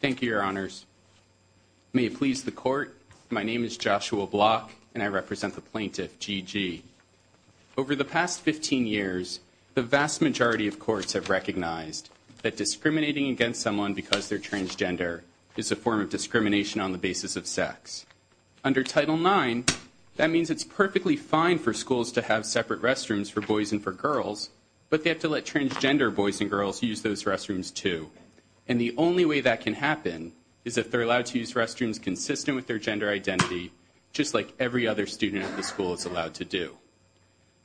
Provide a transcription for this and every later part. Thank you, Your Honors. May it please the Court, my name is Joshua Block and I represent the plaintiff, G. G. Over the past 15 years, the vast majority of courts have recognized that discriminating against someone because they're transgender is a form of discrimination on the basis of sex. Under Title IX, that means it's perfectly fine for schools to have separate restrooms for boys and for girls, but they have to let transgender boys and girls use those only way that can happen is if they're allowed to use restrooms consistent with their gender identity, just like every other student at the school is allowed to do.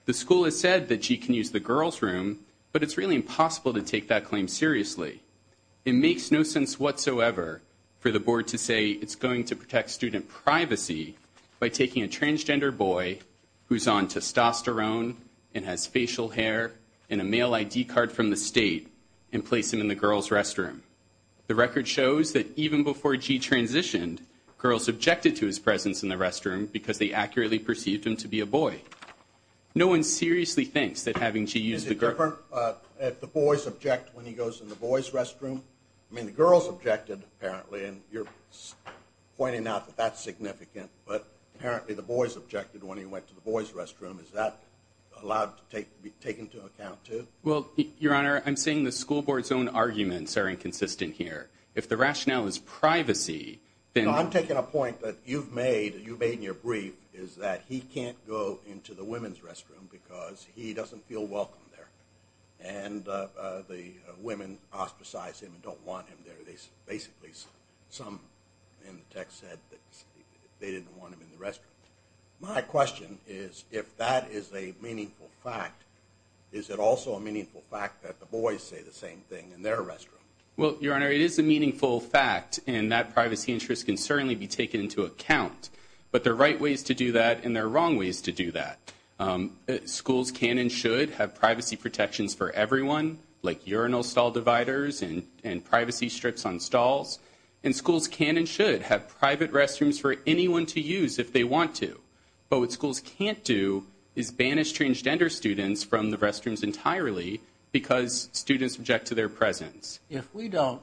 The school has said that G. can use the girls' room, but it's really impossible to take that claim seriously. It makes no sense whatsoever for the Board to say it's going to protect student privacy by taking a transgender boy who's on testosterone and has facial hair and a male ID card from the state and place him in the girls' restroom. The record shows that even before G. transitioned, girls objected to his presence in the restroom because they accurately perceived him to be a boy. No one seriously thinks that having G. use the girl... Is it different if the boys object when he goes in the boys' restroom? I mean, the girls objected, apparently, and you're pointing out that that's significant, but apparently the boys objected when he went to the boys' restroom. Is that allowed to be taken into account, too? Well, Your Honor, I'm saying the school board's own arguments are inconsistent here. If the rationale is privacy, then... I'm taking a point that you've made, you made in your brief, is that he can't go into the women's restroom because he doesn't feel welcome there, and the women ostracize him and don't want him there. They basically, some in the fact... Is it also a meaningful fact that the boys say the same thing in their restroom? Well, Your Honor, it is a meaningful fact, and that privacy interest can certainly be taken into account, but there are right ways to do that, and there are wrong ways to do that. Schools can and should have privacy protections for everyone, like urinal stall dividers and privacy strips on stalls, and schools can and should have private restrooms for anyone to use if they want to, but what schools can't do is ban estranged gender students from the restrooms entirely because students object to their presence. If we don't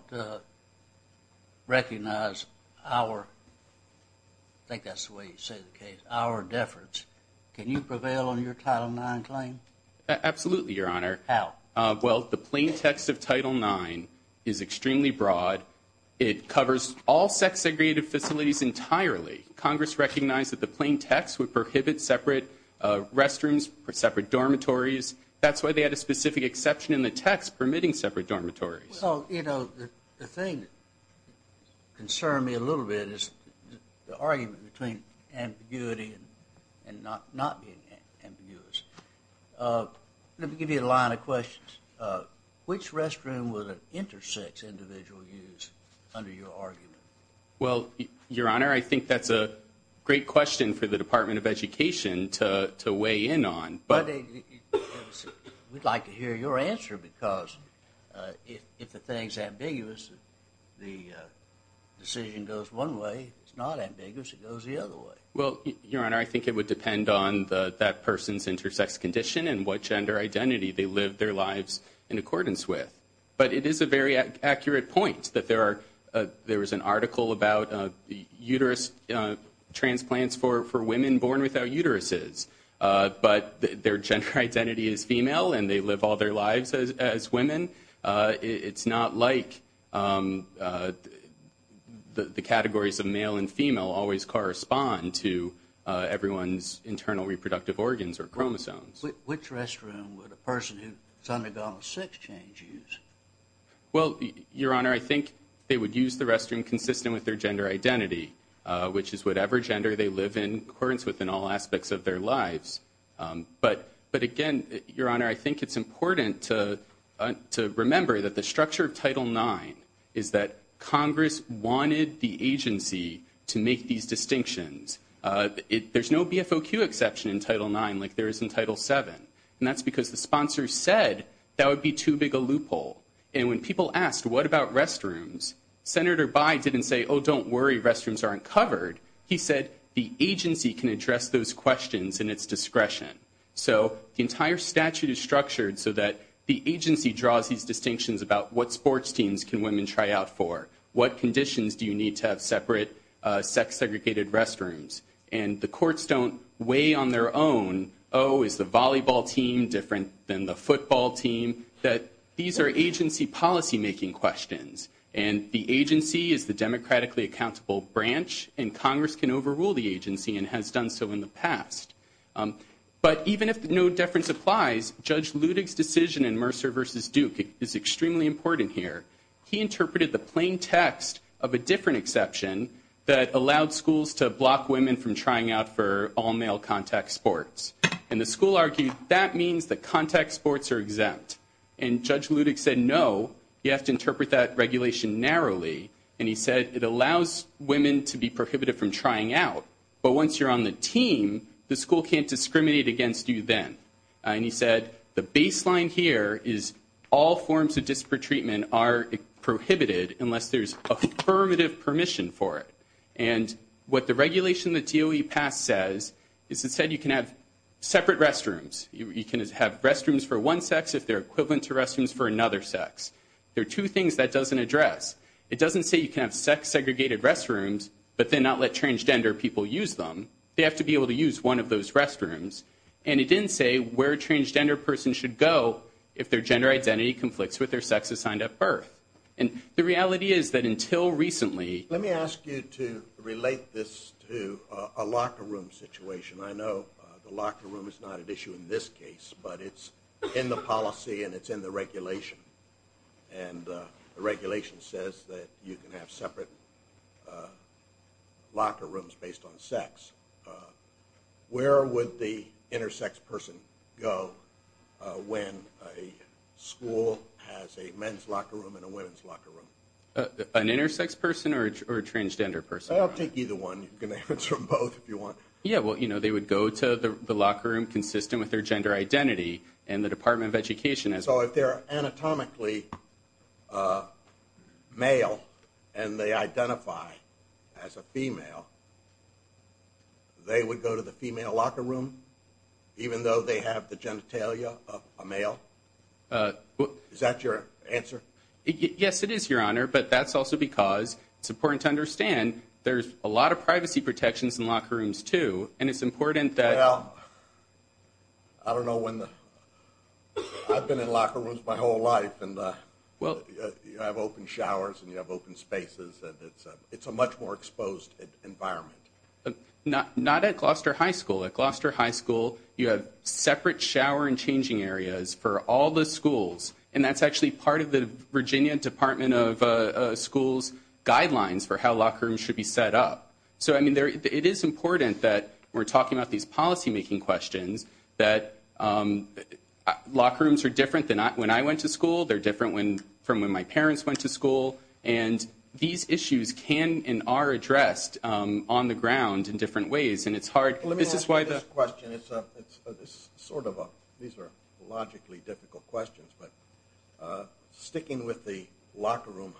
recognize our, I think that's the way you say the case, our deference, can you prevail on your Title IX claim? Absolutely, Your Honor. How? Well, the plain text of Title IX is extremely broad. It covers all sex-segregated facilities entirely. Congress recognized that the plain text would prohibit separate restrooms for separate dormitories. That's why they had a specific exception in the text permitting separate dormitories. Well, you know, the thing that concerned me a little bit is the argument between ambiguity and not being ambiguous. Let me give you a line of questions. Which restroom would an I think that's a great question for the Department of Education to weigh in on. We'd like to hear your answer because if the thing's ambiguous, the decision goes one way. It's not ambiguous. It goes the other way. Well, Your Honor, I think it would depend on that person's intersex condition and what gender identity they lived their lives in accordance with. But it is a very accurate point that there is an article about uterus transplants for women born without uteruses, but their gender identity is female and they live all their lives as women. It's not like the categories of male and female always correspond to everyone's internal reproductive organs or chromosomes. Which restroom would a person who's undergone a sex change use? Well, Your Honor, I think they would use the restroom consistent with their gender identity, which is whatever gender they live in accordance with in all aspects of their lives. But again, Your Honor, I think it's important to remember that the structure of Title IX is that Congress wanted the agency to make these distinctions. There's no BFOQ exception in Title IX like there is in Title VII. And that's because the sponsor said that would be too big a loophole. And when people asked, what about restrooms, Senator Byde didn't say, oh, don't worry, restrooms aren't covered. He said the agency can address those questions in its discretion. So the entire statute is structured so that the agency draws these distinctions about what sports teams can women try out for. What conditions do you need to have separate sex-segregated restrooms? And the courts don't weigh on their own, oh, is the volleyball team different than the football team? That these are agency policymaking questions. And the agency is the democratically accountable branch, and Congress can overrule the agency and has done so in the past. But even if no difference applies, Judge Ludig's decision in Mercer v. Duke is extremely important here. He interpreted the plain text of a different exception that allowed schools to block women from trying out for all-male contact sports. And the school argued that means that contact sports are exempt. And Judge Ludig said, no, you have to interpret that regulation narrowly. And he said it allows women to be prohibited from trying out. But once you're on the team, the school can't say that the baseline here is all forms of disparate treatment are prohibited unless there's affirmative permission for it. And what the regulation that DOE passed says is it said you can have separate restrooms. You can have restrooms for one sex if they're equivalent to restrooms for another sex. There are two things that doesn't address. It doesn't say you can have sex-segregated restrooms, but then not let transgender people use them. They have to be able to use one of those restrooms. And it didn't say where a transgender person should go if their gender identity conflicts with their sex assigned at birth. And the reality is that until recently... Let me ask you to relate this to a locker room situation. I know the locker room is not an issue in this case, but it's in the policy and it's in the regulation. And the regulation says that you based on sex. Where would the intersex person go when a school has a men's locker room and a women's locker room? An intersex person or a transgender person? I'll take either one. You can answer both if you want. Yeah. Well, they would go to the locker room consistent with their gender identity and the Department of Education has... So if they're anatomically a male and they identify as a female, they would go to the female locker room even though they have the genitalia of a male? Is that your answer? Yes, it is, Your Honor. But that's also because it's important to understand there's a lot of privacy protections in locker rooms too. And it's important that... Well, I don't know when the... I've been in locker rooms my whole life and you have open showers and you have open spaces and it's a much more exposed environment. Not at Gloucester High School. At Gloucester High School, you have separate shower and changing areas for all the schools. And that's actually part of the Virginia Department of Schools guidelines for how locker rooms should be set up. So, I mean, it is important that we're talking about these policymaking questions that locker rooms are different than when I went to school. They're different from when my parents went to school. And these issues can and are addressed on the ground in different ways. And it's hard... Let me ask you this question. It's sort of a... These are logically difficult questions, but sticking with the locker room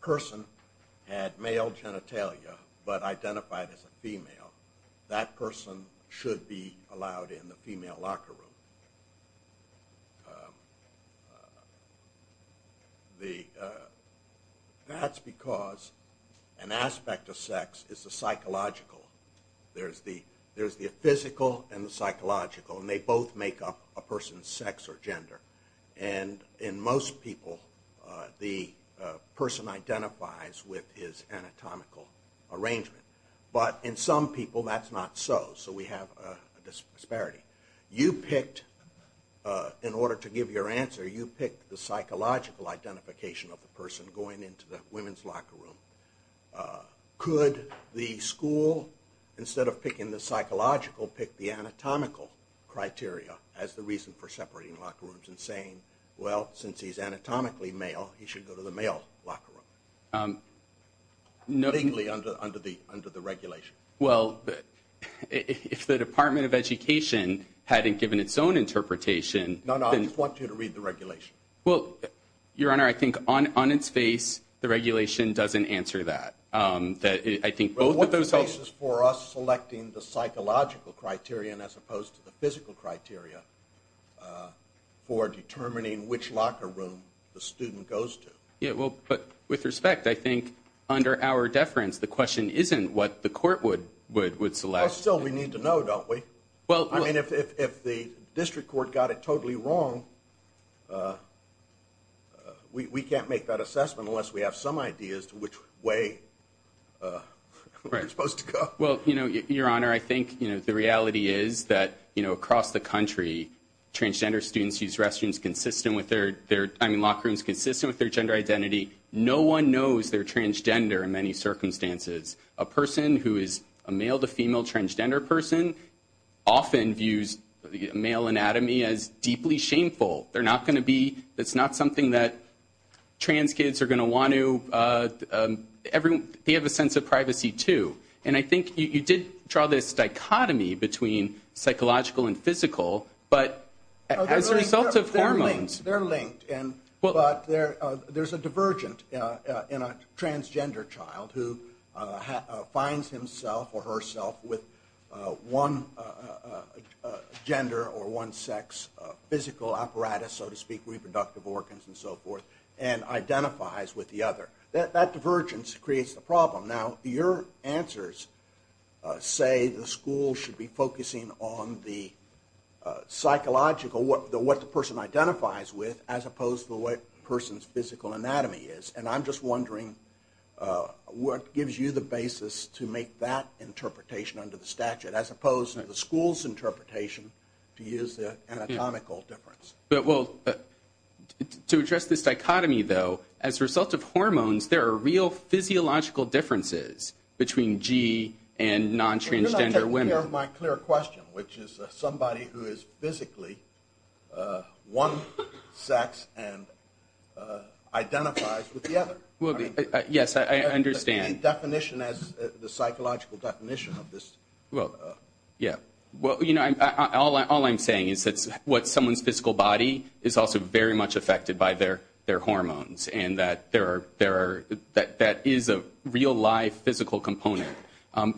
person had male genitalia but identified as a female, that person should be allowed in the female locker room. That's because an aspect of sex is the psychological. There's the physical and the psychological and they both make up a person's sex or gender. And in most people, the person identifies with his anatomical arrangement. But in some people, that's not so. So we have a disparity. You picked, in order to give your answer, you picked the psychological identification of the person going into the women's locker room. Could the school, instead of picking the psychological, pick the anatomical criteria as the reason for separating locker rooms and saying, well, since he's anatomically male, he should go to the male locker room? Legally under the regulation. Well, if the Department of Education hadn't given its own interpretation... No, no. I just want you to read the regulation. Well, Your Honor, I think on its face, the regulation doesn't answer that. I think both of those... Well, what's the basis for us determining which locker room the student goes to? Yeah, well, but with respect, I think under our deference, the question isn't what the court would select. Well, still, we need to know, don't we? Well, I mean, if the district court got it totally wrong, we can't make that assessment unless we have some idea as to which way you're supposed to go. Well, Your Honor, I think the country, transgender students use locker rooms consistent with their gender identity. No one knows they're transgender in many circumstances. A person who is a male to female transgender person often views the male anatomy as deeply shameful. They're not going to be... It's not something that trans kids are going to want to... They have a sense of privacy, too. And I think you did draw this dichotomy between psychological and physical, but as a result of hormones... They're linked, but there's a divergent in a transgender child who finds himself or herself with one gender or one sex physical apparatus, so to speak, reproductive organs and so forth, and identifies with the other. That divergence creates the answers say the school should be focusing on the psychological, what the person identifies with, as opposed to what a person's physical anatomy is. And I'm just wondering what gives you the basis to make that interpretation under the statute, as opposed to the school's interpretation to use the anatomical difference? Well, to address this dichotomy, though, as a result of hormones, there are real physiological differences between G and non-transgender women. You're not taking care of my clear question, which is somebody who is physically one sex and identifies with the other. Yes, I understand. Any definition as the psychological definition of this? Well, yeah. All I'm saying is that what someone's physical body is also very much affected by their hormones, and that is a real life physical component.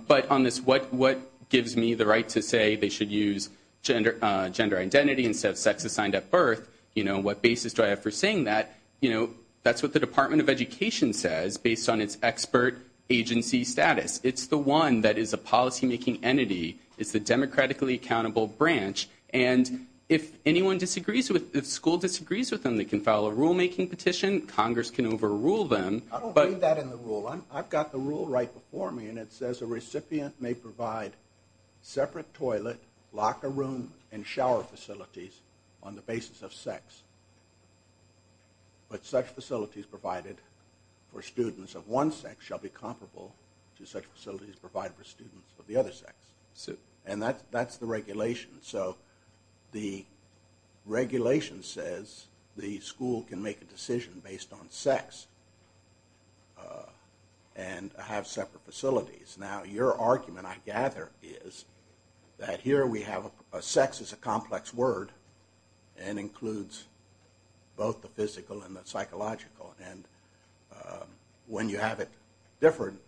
But on this, what gives me the right to say they should use gender identity instead of sex assigned at birth? What basis do I have for saying that? That's what the Department of Education says, based on its expert agency status. It's the one that is a policymaking entity. It's the democratically accountable branch. And if school disagrees with them, they can file a rulemaking petition. Congress can overrule them. I don't believe that in the rule. I've got the rule right before me, and it says a recipient may provide separate toilet, locker room, and shower facilities on the basis of sex. But such facilities provided for students of one sex shall be comparable to such facilities provided for students of the other sex. And that's the regulation. So the regulation says the school can make a decision based on sex and have separate facilities. Now, your argument, I gather, is that here we have sex as a complex word and includes both the physical and the psychological. And when you have it different,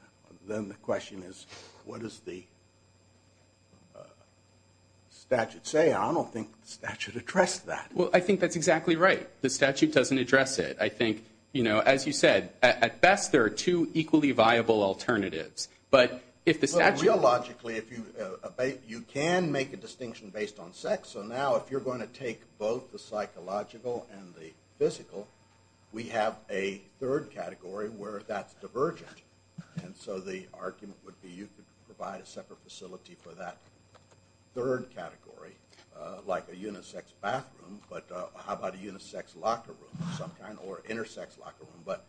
then the question is, what does the statute say? I don't think the statute addressed that. Well, I think that's exactly right. The statute doesn't address it. I think, you know, as you said, at best, there are two equally viable alternatives. But if the statute if you can make a distinction based on sex, so now if you're going to take both the psychological and the physical, we have a third category where that's divergent. And so the argument would be you could provide a separate facility for that third category, like a unisex bathroom. But how about a unisex locker room of some kind or intersex locker room? But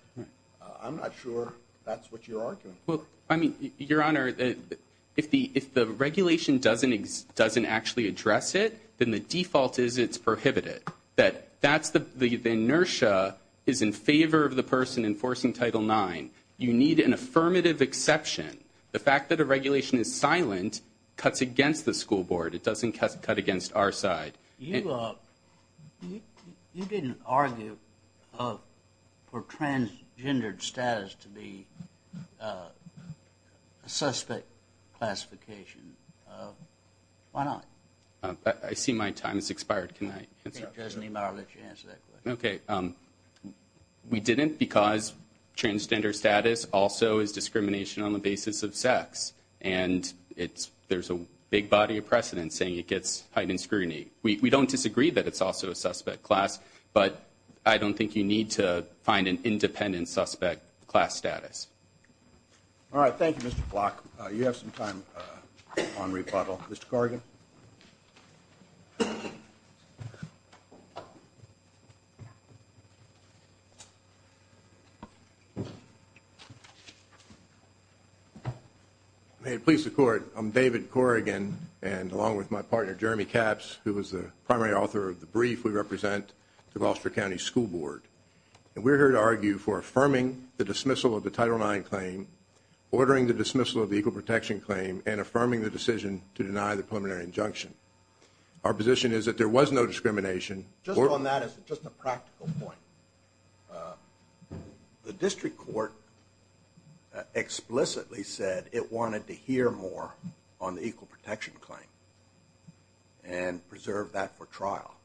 I'm not sure that's what you're arguing. Well, I mean, Your Honor, if the regulation doesn't actually address it, then the default is it's prohibited. That's the inertia is in favor of the person enforcing Title IX. You need an affirmative exception. The fact that a regulation is silent cuts against the school board. It doesn't cut against our side. You didn't argue for transgender status to be a suspect classification. Why not? I see my time has expired. Can I? Okay. We didn't because transgender status also is discrimination on the basis of sex. And it's there's a big body of precedent saying it gets heightened scrutiny. We don't disagree that it's a suspect class, but I don't think you need to find an independent suspect class status. All right. Thank you, Mr. Block. You have some time on rebuttal. Mr. Corrigan. May it please the court. I'm David Corrigan and along with my partner, Jeremy Capps, who was the primary author of the brief, we represent the Gloucester County School Board, and we're here to argue for affirming the dismissal of the Title IX claim, ordering the dismissal of the equal protection claim and affirming the decision to deny the preliminary injunction. Our position is that there was no discrimination. Just on that is just a practical point. The district court explicitly said it wanted to hear more on the equal protection claim and preserve that for trial.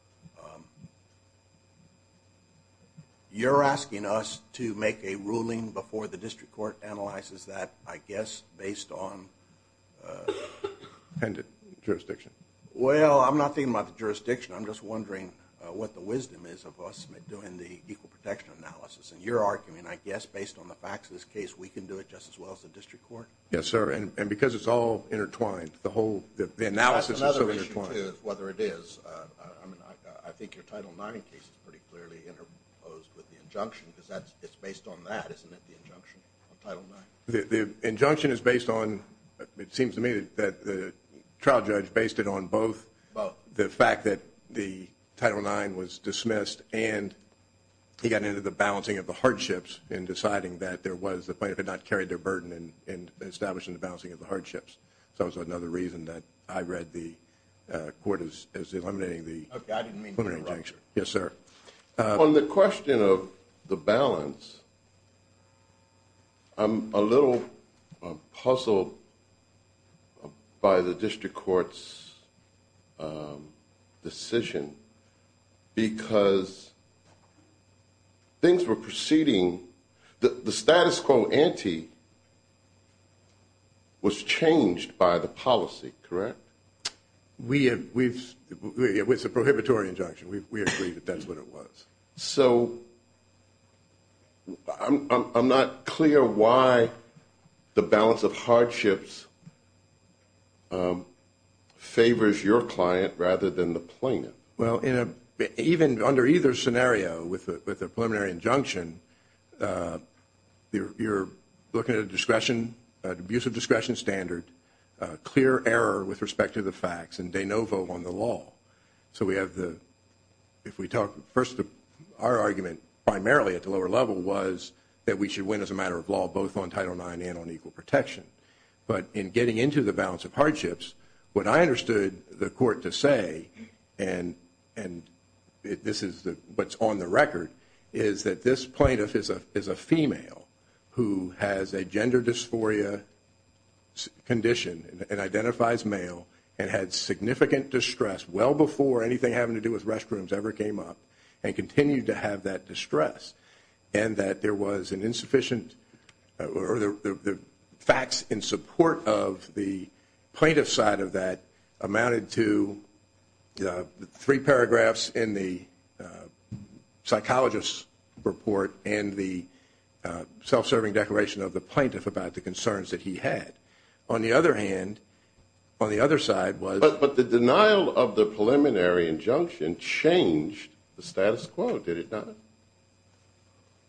You're asking us to make a ruling before the district court analyzes that, I guess, based on jurisdiction. Well, I'm not thinking about the jurisdiction. I'm just wondering what the wisdom is of us doing the equal protection analysis and your argument, I guess, based on the facts of this case, we can do it just as well as the district court. Yes, sir. And because it's all intertwined, the analysis is so intertwined. Whether it is, I mean, I think your Title IX case is pretty clearly interposed with the injunction because it's based on that, isn't it, the injunction of Title IX? The injunction is based on, it seems to me that the trial judge based it on both the fact that the Title IX was dismissed and he got into the balancing of the hardships in deciding that there was a balance. So it's another reason that I read the court is eliminating the injunction. Yes, sir. On the question of the balance, I'm a little puzzled by the district court's decision because things were proceeding, the status quo ante was changed by the policy, correct? It was a prohibitory injunction. We agree that that's what it was. So I'm not clear why the balance of hardships favors your client rather than the plaintiff. Well, even under either scenario with a preliminary injunction, you're looking at a discretion, an abuse of discretion standard, clear error with respect to the facts and de novo on the law. So we have the, if we talk first, our argument primarily at the lower level was that we should win as a matter of law, both on Title IX and on equal protection. But in getting into the balance of hardships, what I understood the court to say, and this is what's on the record, is that this plaintiff is a female who has a gender dysphoria condition and identifies male and had significant distress well before anything having to do with restrooms ever came up and continued to have that distress. And that there was an insufficient or the facts in support of the plaintiff side of that amounted to three paragraphs in the psychologist report and the self-serving declaration of the plaintiff about the concerns that he had. On the other hand, on the other side was... But the denial of the preliminary injunction changed the status quo, did it not?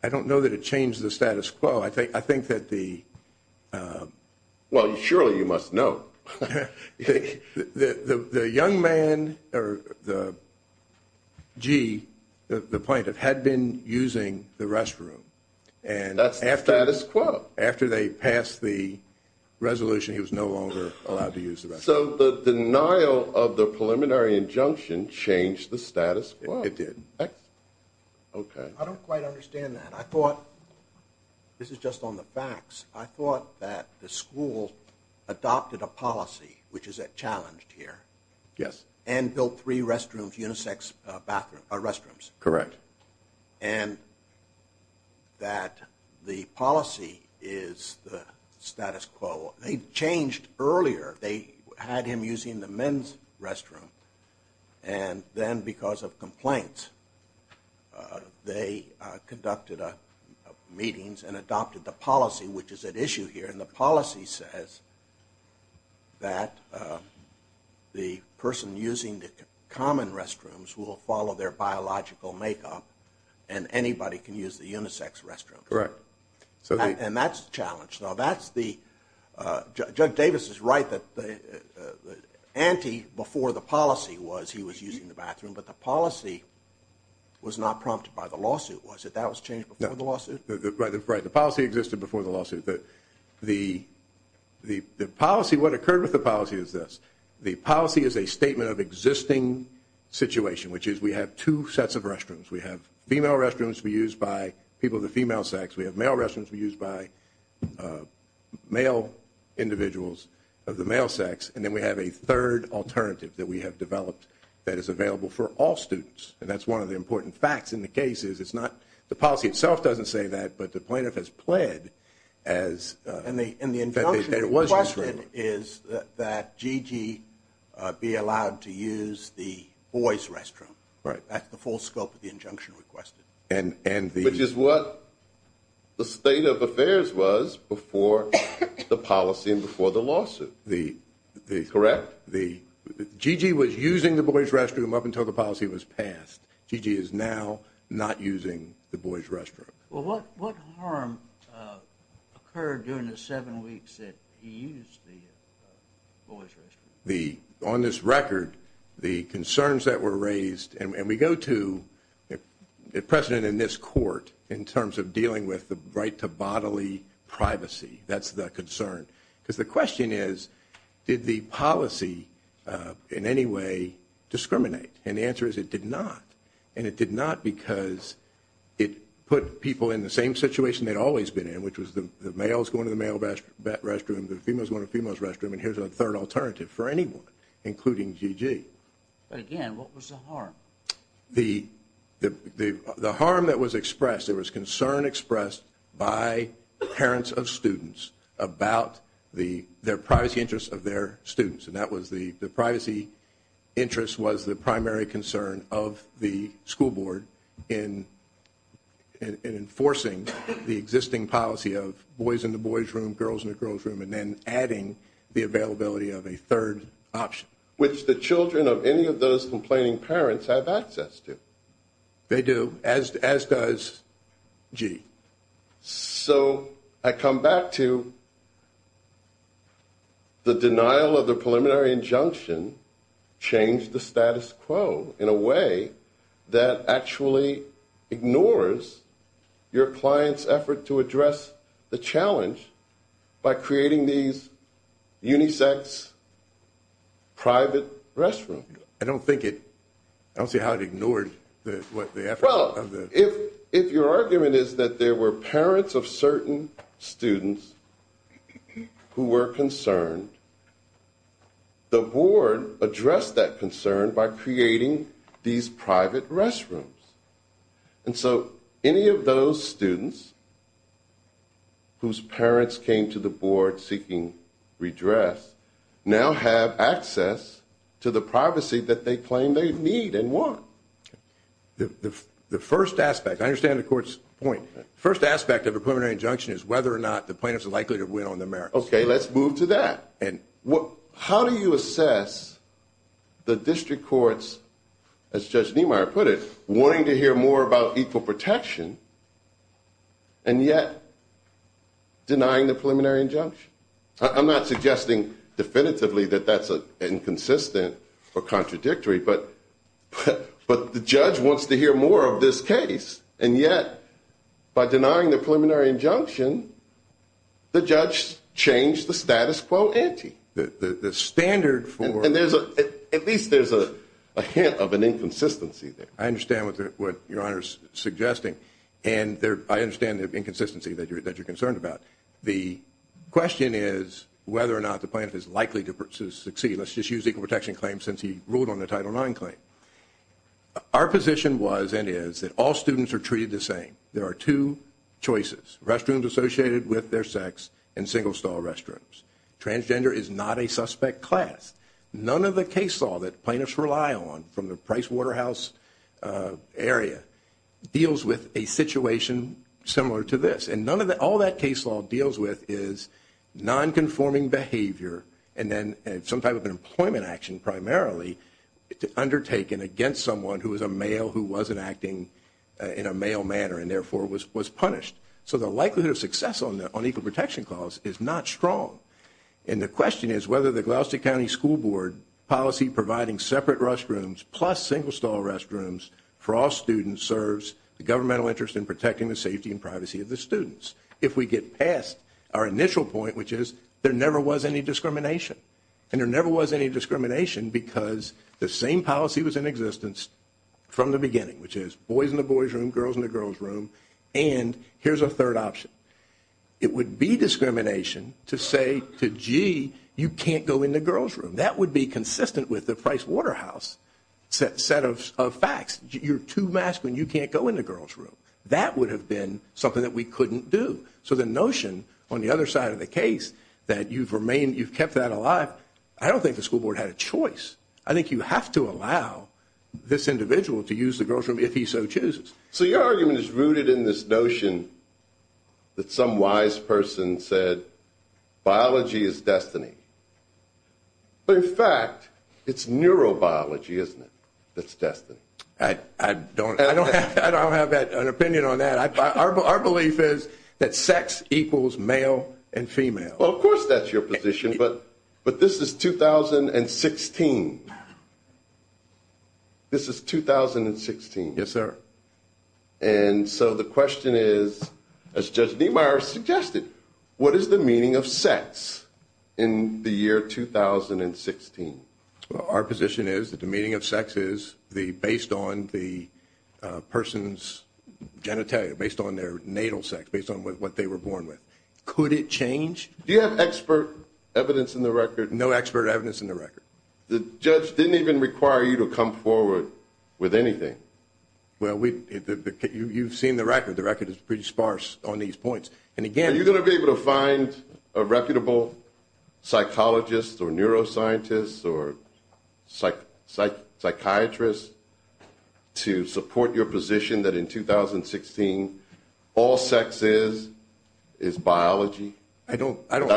I don't know that it changed the status quo. I think that the... Well, surely you must know. The young man, or the G, the plaintiff had been using the restroom. And that's the status quo. After they passed the resolution, he was no longer allowed to use the restroom. So the denial of the preliminary injunction changed the status quo. It did. Okay. I don't quite understand that. I thought... This is just on the facts. I thought that the school adopted a policy, which is challenged here. Yes. And built three restrooms, unisex restrooms. Correct. And that the policy is the status quo. They changed earlier. They had him using the men's restroom. And then because of complaints, they conducted meetings and adopted the policy, which is at issue here. And the policy says that the person using the common restrooms will follow their biological makeup and anybody can use the unisex restroom. Correct. And that's the challenge. Now, that's the... The anti before the policy was he was using the bathroom, but the policy was not prompted by the lawsuit, was it? That was changed before the lawsuit? Right. The policy existed before the lawsuit. The policy, what occurred with the policy is this. The policy is a statement of existing situation, which is we have two sets of restrooms. We have female restrooms to be used by people of the female sex. We have male restrooms to be used by male individuals of the male sex. And then we have a third alternative that we have developed that is available for all students. And that's one of the important facts in the case is it's not... The policy itself doesn't say that, but the plaintiff has pled as... And the injunction requested is that Gigi be allowed to use the boys restroom. Right. That's the full scope of the injunction requested. And the... The state of affairs was before the policy and before the lawsuit, correct? The... Gigi was using the boys restroom up until the policy was passed. Gigi is now not using the boys restroom. Well, what harm occurred during the seven weeks that he used the boys restroom? The... On this record, the concerns that were raised... And we go to the precedent in this court in terms of dealing with the right to bodily privacy. That's the concern. Because the question is, did the policy in any way discriminate? And the answer is it did not. And it did not because it put people in the same situation they'd always been in, which was the males going to the male restroom, the females going to the females restroom. And here's a third alternative for anyone, including Gigi. But again, what was the harm? The harm that was expressed, there was concern expressed by parents of students about their privacy interests of their students. And that was the privacy interest was the primary concern of the school board in enforcing the existing policy of boys in the boys room, girls in the girls room, and then adding the availability of a third option. Which the children of any of those complaining parents have access to. They do, as does G. So I come back to the denial of the preliminary injunction changed the status quo in a way that actually ignores your client's effort to address the challenge by creating these unisex private restrooms. I don't think it, I don't see how it ignored the effort. Well, if your argument is that there were parents of certain students who were concerned, the board addressed that concern by creating these private restrooms. And so any of those students whose parents came to the board seeking redress now have access to the privacy that they claim they need and want. The first aspect, I understand the court's point. First aspect of a preliminary injunction is whether or not the plaintiffs are likely to win on the merits. Okay, let's move to that. How do you assess the district courts, as Judge Niemeyer put it, wanting to hear more about equal protection and yet denying the preliminary injunction? I'm not suggesting definitively that that's inconsistent or contradictory, but the judge wants to hear more of this case. And yet, by denying the preliminary injunction, the judge changed the status quo ante. The standard for- And there's a, at least there's a hint of an inconsistency there. I understand what your Honor's suggesting. And I understand the inconsistency that you're concerned about. The question is whether or not the plaintiff is likely to succeed. Let's just use the equal protection claim since he ruled on the Title IX claim. Our position was and is that all students are treated the same. There are two choices. Restrooms associated with their sex and single stall restrooms. Transgender is not a suspect class. None of the case law that plaintiffs rely on from the Price Waterhouse area deals with a situation similar to this. And none of the, all that case law deals with is non-conforming behavior and then some type of an employment action primarily undertaken against someone who is a male who wasn't acting in a male manner and therefore was punished. So the likelihood of success on equal protection clause is not strong. And the question is whether the Gloucester County School Board policy providing separate restrooms plus single stall restrooms for all students serves the governmental interest in protecting the safety and privacy of the students. If we get past our initial point, which is there never was any discrimination. And there never was any discrimination because the same policy was in existence from the beginning, which is boys in the boys' room, girls in the girls' room. And here's a third option. It would be discrimination to say to G, you can't go in the girls' room. That would be consistent with the Price Waterhouse set of facts. You're too masculine. You can't go in the girls' room. That would have been something that we couldn't do. So the notion on the other side of the case that you've remained, you've kept that alive. I don't think the school board had a choice. I think you have to allow this individual to use the girls' room if he so chooses. So your argument is rooted in this notion that some wise person said biology is destiny. But in fact, it's neurobiology, isn't it? That's destiny. I don't have an opinion on that. Our belief is that sex equals male and female. Well, of course, that's your position. But this is 2016. This is 2016. Yes, sir. And so the question is, as Judge Niemeyer suggested, what is the meaning of sex in the year 2016? Our position is that the meaning of sex is based on the person's genitalia, based on their natal sex, based on what they were born with. Could it change? Do you have expert evidence in the record? No expert evidence in the record. The judge didn't even require you to come forward with anything. Well, you've seen the record. The record is pretty sparse on these points. Are you going to be able to find a reputable psychologist or neuroscientist or psychiatrist to support your position that in 2016, all sex is biology? I haven't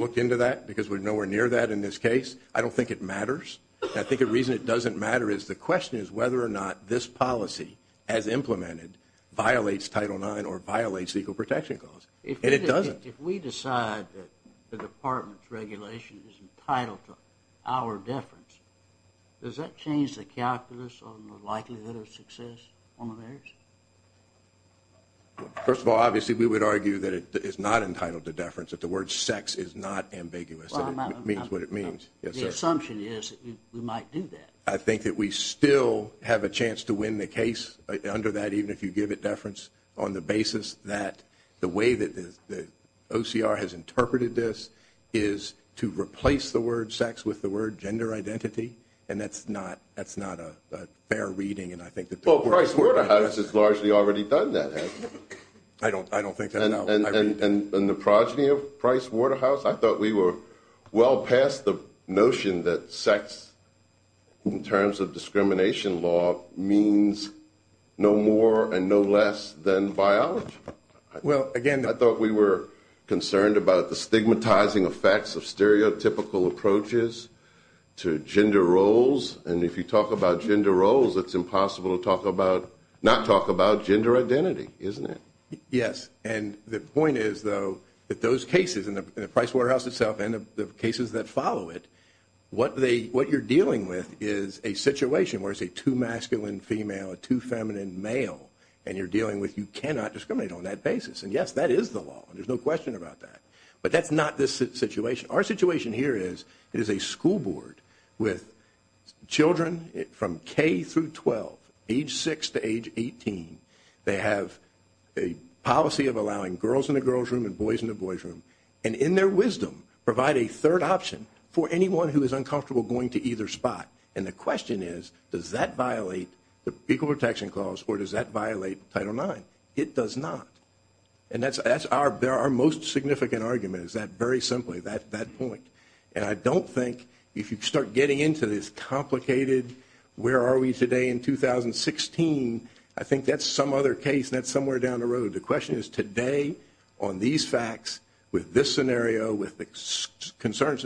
looked into that because we're nowhere near that in this case. I don't think it matters. I think the reason it doesn't matter is the question is whether or not this policy, as implemented, violates Title IX or violates the Equal Protection Clause, and it doesn't. If we decide that the department's regulation is entitled to our deference, does that change the calculus on the likelihood of success on the merits? First of all, obviously, we would argue that it is not entitled to deference, that the word sex is not ambiguous, and it means what it means. Yes, sir. The assumption is that we might do that. I think that we still have a chance to win the case under that, even if you give it deference, on the basis that the way that the OCR has interpreted this is to replace the word sex with the word gender identity, and that's not a fair reading, and I think that— Well, Price Waterhouse has largely already done that, hasn't he? I don't think so, no. And the progeny of Price Waterhouse? I thought we were well past the notion that sex, in terms of discrimination law, means no more and no less than biology. Well, again— I thought we were concerned about the stigmatizing effects of stereotypical approaches to gender roles, and if you talk about gender roles, it's impossible to not talk about gender identity, isn't it? Yes, and the point is, though, that those cases, and the Price Waterhouse itself, and the cases that follow it, what they— what you're dealing with is a situation where it's a too masculine female, a too feminine male, and you're dealing with you cannot discriminate on that basis. And yes, that is the law. There's no question about that. But that's not this situation. Our situation here is it is a school board with children from K through 12, age 6 to age 18. They have a policy of allowing girls in the girls' room and boys in the boys' room, and in their wisdom, provide a third option for anyone who is uncomfortable going to either spot. And the question is, does that violate the Equal Protection Clause, or does that violate Title IX? It does not. And that's our most significant argument, is that, very simply, that point. And I don't think, if you start getting into this complicated, where are we today in 2016, I think that's some other case. That's somewhere down the road. The question is, today, on these facts, with this scenario, with the concerns—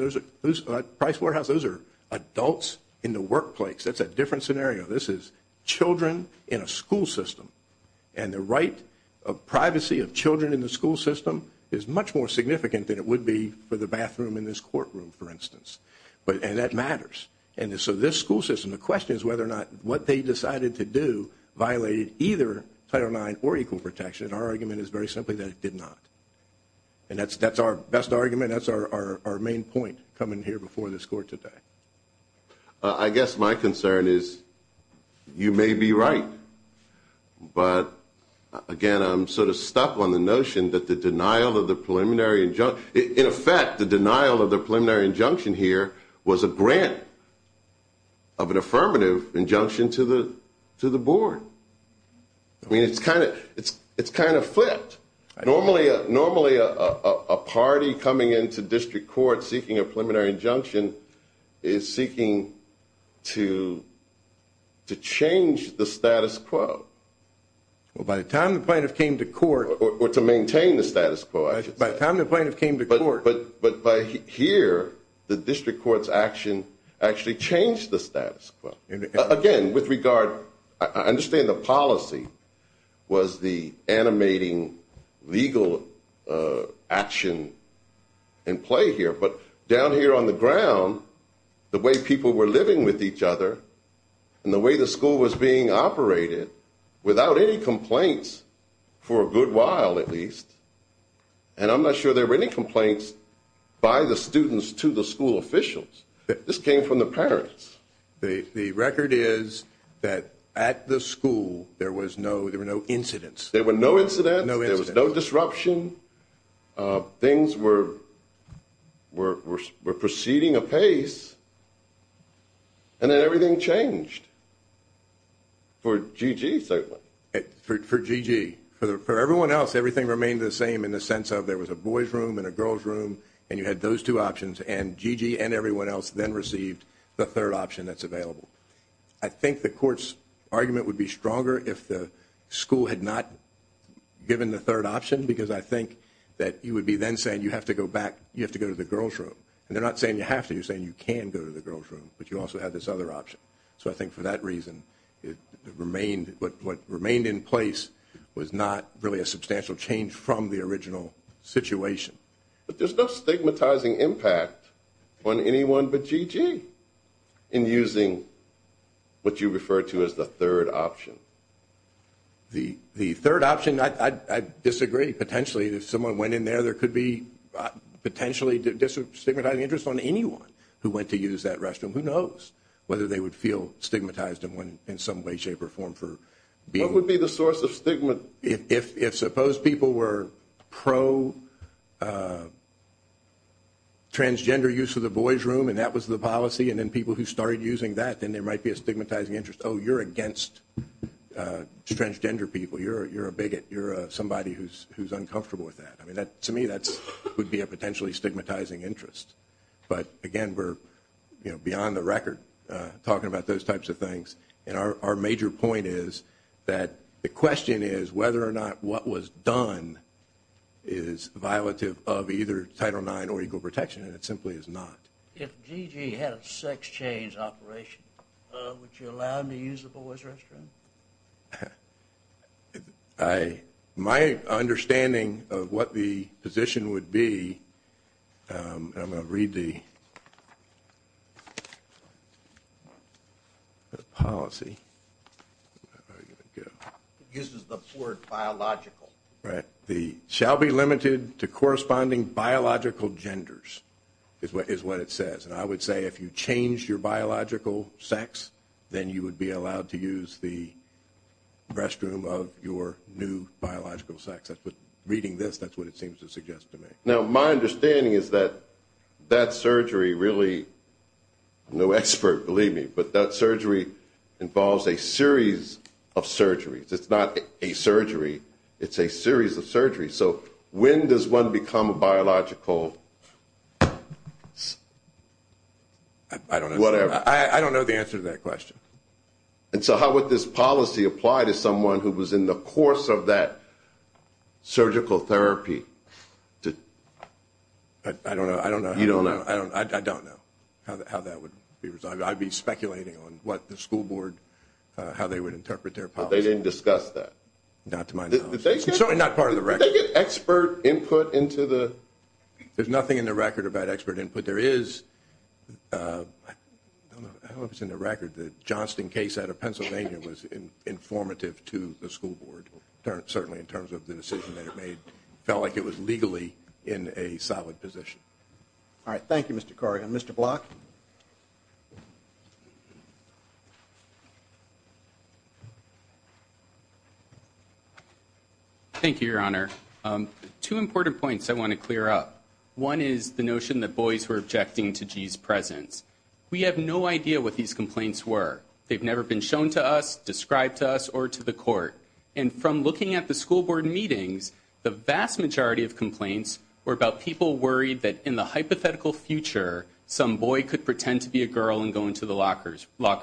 Price Warehouse, those are adults in the workplace. That's a different scenario. This is children in a school system. And the right of privacy of children in the school system is much more significant than it would be for the bathroom in this courtroom, for instance. And that matters. And so this school system, the question is whether or not what they decided to do violated either Title IX or equal protection. Our argument is, very simply, that it did not. And that's our best argument. That's our main point, coming here before this Court today. I guess my concern is, you may be right. But, again, I'm sort of stuck on the notion that the denial of the preliminary injunction— of an affirmative injunction to the board. I mean, it's kind of flipped. Normally, a party coming into district court seeking a preliminary injunction is seeking to change the status quo. Well, by the time the plaintiff came to court— Or to maintain the status quo, I should say. By the time the plaintiff came to court— But by here, the district court's action actually changed the status quo. Again, with regard—I understand the policy was the animating legal action in play here. But down here on the ground, the way people were living with each other, and the way the school was being operated, without any complaints, for a good while at least— And I'm not sure there were any complaints by the students to the school officials. This came from the parents. The record is that at the school, there were no incidents. There were no incidents. There was no disruption. Things were proceeding apace. And then everything changed. For Gigi, certainly. For Gigi. For everyone else, everything remained the same in the sense of there was a boy's room and a girl's room, and you had those two options. And Gigi and everyone else then received the third option that's available. I think the court's argument would be stronger if the school had not given the third option, because I think that you would be then saying you have to go back— You have to go to the girl's room. And they're not saying you have to. You're saying you can go to the girl's room. But you also had this other option. So I think for that reason, what remained in place was not really a substantial change from the original situation. But there's no stigmatizing impact on anyone but Gigi in using what you refer to as the third option. The third option, I disagree. Potentially, if someone went in there, there could be potentially stigmatizing interest on anyone who went to use that restroom. Who knows whether they would feel stigmatized in some way, shape, or form for being— What would be the source of stigma? If suppose people were pro-transgender use of the boy's room, and that was the policy, and then people who started using that, then there might be a stigmatizing interest. Oh, you're against transgender people. You're a bigot. You're somebody who's uncomfortable with that. I mean, to me, that would be a potentially stigmatizing interest. But again, we're beyond the record talking about those types of things. And our major point is that the question is whether or not what was done is violative of either Title IX or equal protection, and it simply is not. If Gigi had a sex change operation, would you allow him to use the boy's restroom? My understanding of what the position would be—and I'm going to read the policy. It uses the word biological. Right. The shall be limited to corresponding biological genders is what it says. And I would say if you change your biological sex, then you would be allowed to use the restroom of your new biological sex. That's what—reading this, that's what it seems to suggest to me. Now, my understanding is that that surgery really—I'm no expert, believe me, but that surgery involves a series of surgeries. It's not a surgery. It's a series of surgeries. So when does one become a biological— I don't know. Whatever. I don't know the answer to that question. And so how would this policy apply to someone who was in the course of that surgical therapy? I don't know. I don't know. You don't know. I don't know how that would be resolved. I'd be speculating on what the school board—how they would interpret their policy. But they didn't discuss that. Not to my knowledge. It's certainly not part of the record. Did they get expert input into the— There's nothing in the record about expert input. There is—I don't know if it's in the record. The Johnston case out of Pennsylvania was informative to the school board, certainly in terms of the decision that it made. Felt like it was legally in a solid position. All right. Thank you, Mr. Corrigan. Mr. Block? Thank you, Your Honor. Two important points I want to clear up. One is the notion that boys were objecting to G's presence. We have no idea what these complaints were. They've never been shown to us, described to us, or to the court. And from looking at the school board meetings, the vast majority of complaints were about people worried that in the hypothetical future, some boy could pretend to be a girl and go into the locker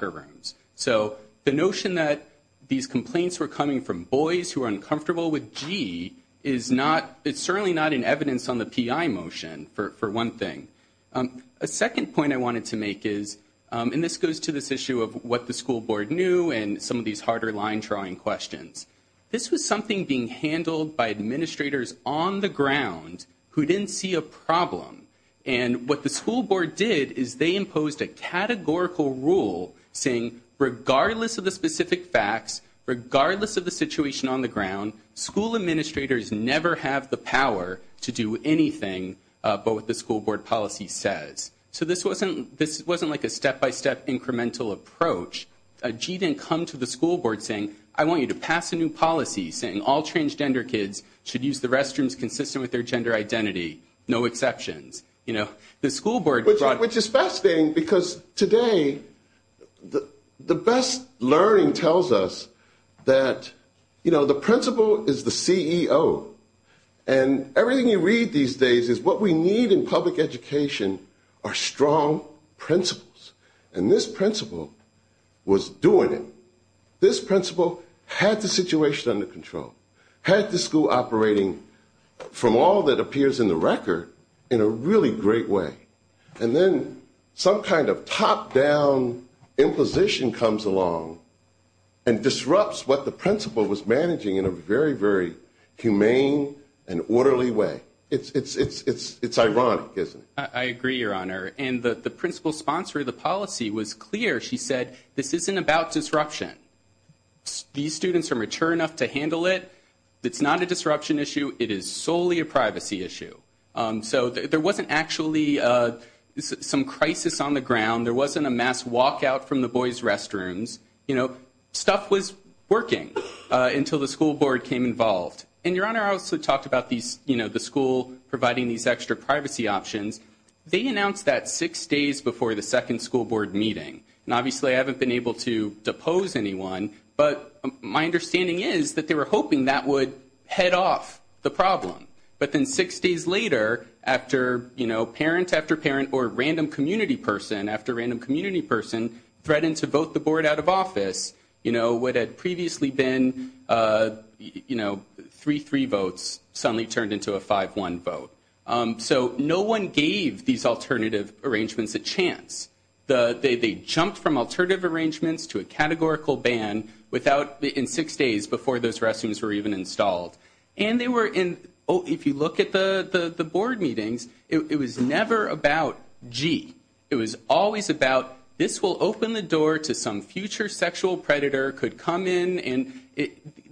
rooms. So the notion that these complaints were coming from boys who were uncomfortable with G is certainly not in evidence on the P.I. motion, for one thing. A second point I wanted to make is—and this goes to this issue of what the school board knew and some of these harder line-drawing questions. This was something being handled by administrators on the ground who didn't see a problem. And what the school board did is they imposed a categorical rule saying regardless of the situation on the ground, school administrators never have the power to do anything but what the school board policy says. So this wasn't like a step-by-step incremental approach. G didn't come to the school board saying, I want you to pass a new policy saying all transgender kids should use the restrooms consistent with their gender identity, no exceptions. The school board brought— which is fascinating because today the best learning tells us that, you know, the principal is the CEO. And everything you read these days is what we need in public education are strong principles. And this principal was doing it. This principal had the situation under control, had the school operating from all that appears in the record in a really great way. And then some kind of top-down imposition comes along and disrupts what the principal was managing in a very, very humane and orderly way. It's ironic, isn't it? I agree, Your Honor. And the principal sponsor of the policy was clear. She said this isn't about disruption. These students are mature enough to handle it. It's not a disruption issue. It is solely a privacy issue. So there wasn't actually some crisis on the ground. There wasn't a mass walkout from the boys' restrooms. You know, stuff was working until the school board came involved. And, Your Honor, I also talked about these, you know, the school providing these extra privacy options. They announced that six days before the second school board meeting. And obviously, I haven't been able to depose anyone. But my understanding is that they were hoping that would head off the problem. But then six days later, after, you know, parent after parent or random community person after random community person threatened to vote the board out of office, you know, what had previously been, you know, 3-3 votes suddenly turned into a 5-1 vote. So no one gave these alternative arrangements a chance. They jumped from alternative arrangements to a categorical ban in six days before those restrooms were even installed. And they were in, if you look at the board meetings, it was never about, gee, it was always about this will open the door to some future sexual predator could come in. And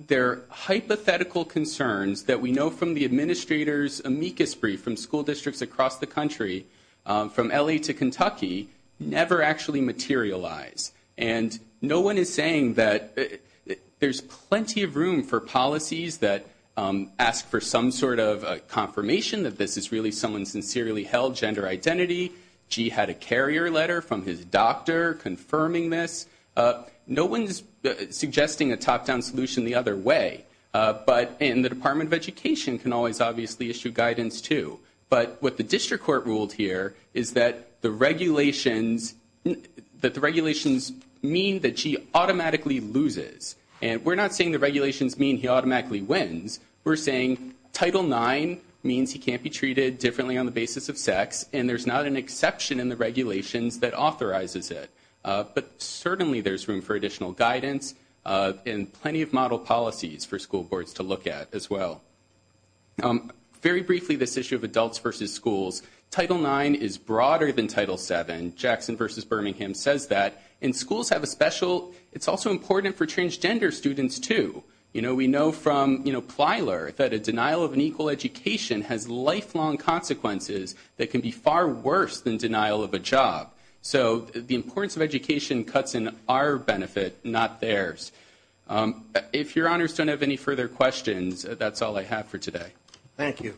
their hypothetical concerns that we know from the administrators' amicus brief from school districts across the country, from L.A. to Kentucky, never actually materialized. And no one is saying that there's plenty of room for policies that ask for some sort of confirmation that this is really someone's sincerely held gender identity. Gee had a carrier letter from his doctor confirming this. No one's suggesting a top-down solution the other way. But in the Department of Education can always obviously issue guidance too. But what the district court ruled here is that the regulations mean that she automatically loses. And we're not saying the regulations mean he automatically wins. We're saying Title IX means he can't be treated differently on the basis of sex. And there's not an exception in the regulations that authorizes it. But certainly there's room for additional guidance and plenty of model policies for school boards to look at as well. Very briefly, this issue of adults versus schools. Title IX is broader than Title VII. Jackson versus Birmingham says that. And schools have a special, it's also important for transgender students too. You know, we know from Plyler that a denial of an equal education has lifelong consequences that can be far worse than denial of a job. So the importance of education cuts in our benefit, not theirs. If your honors don't have any further questions, that's all I have for today. Thank you.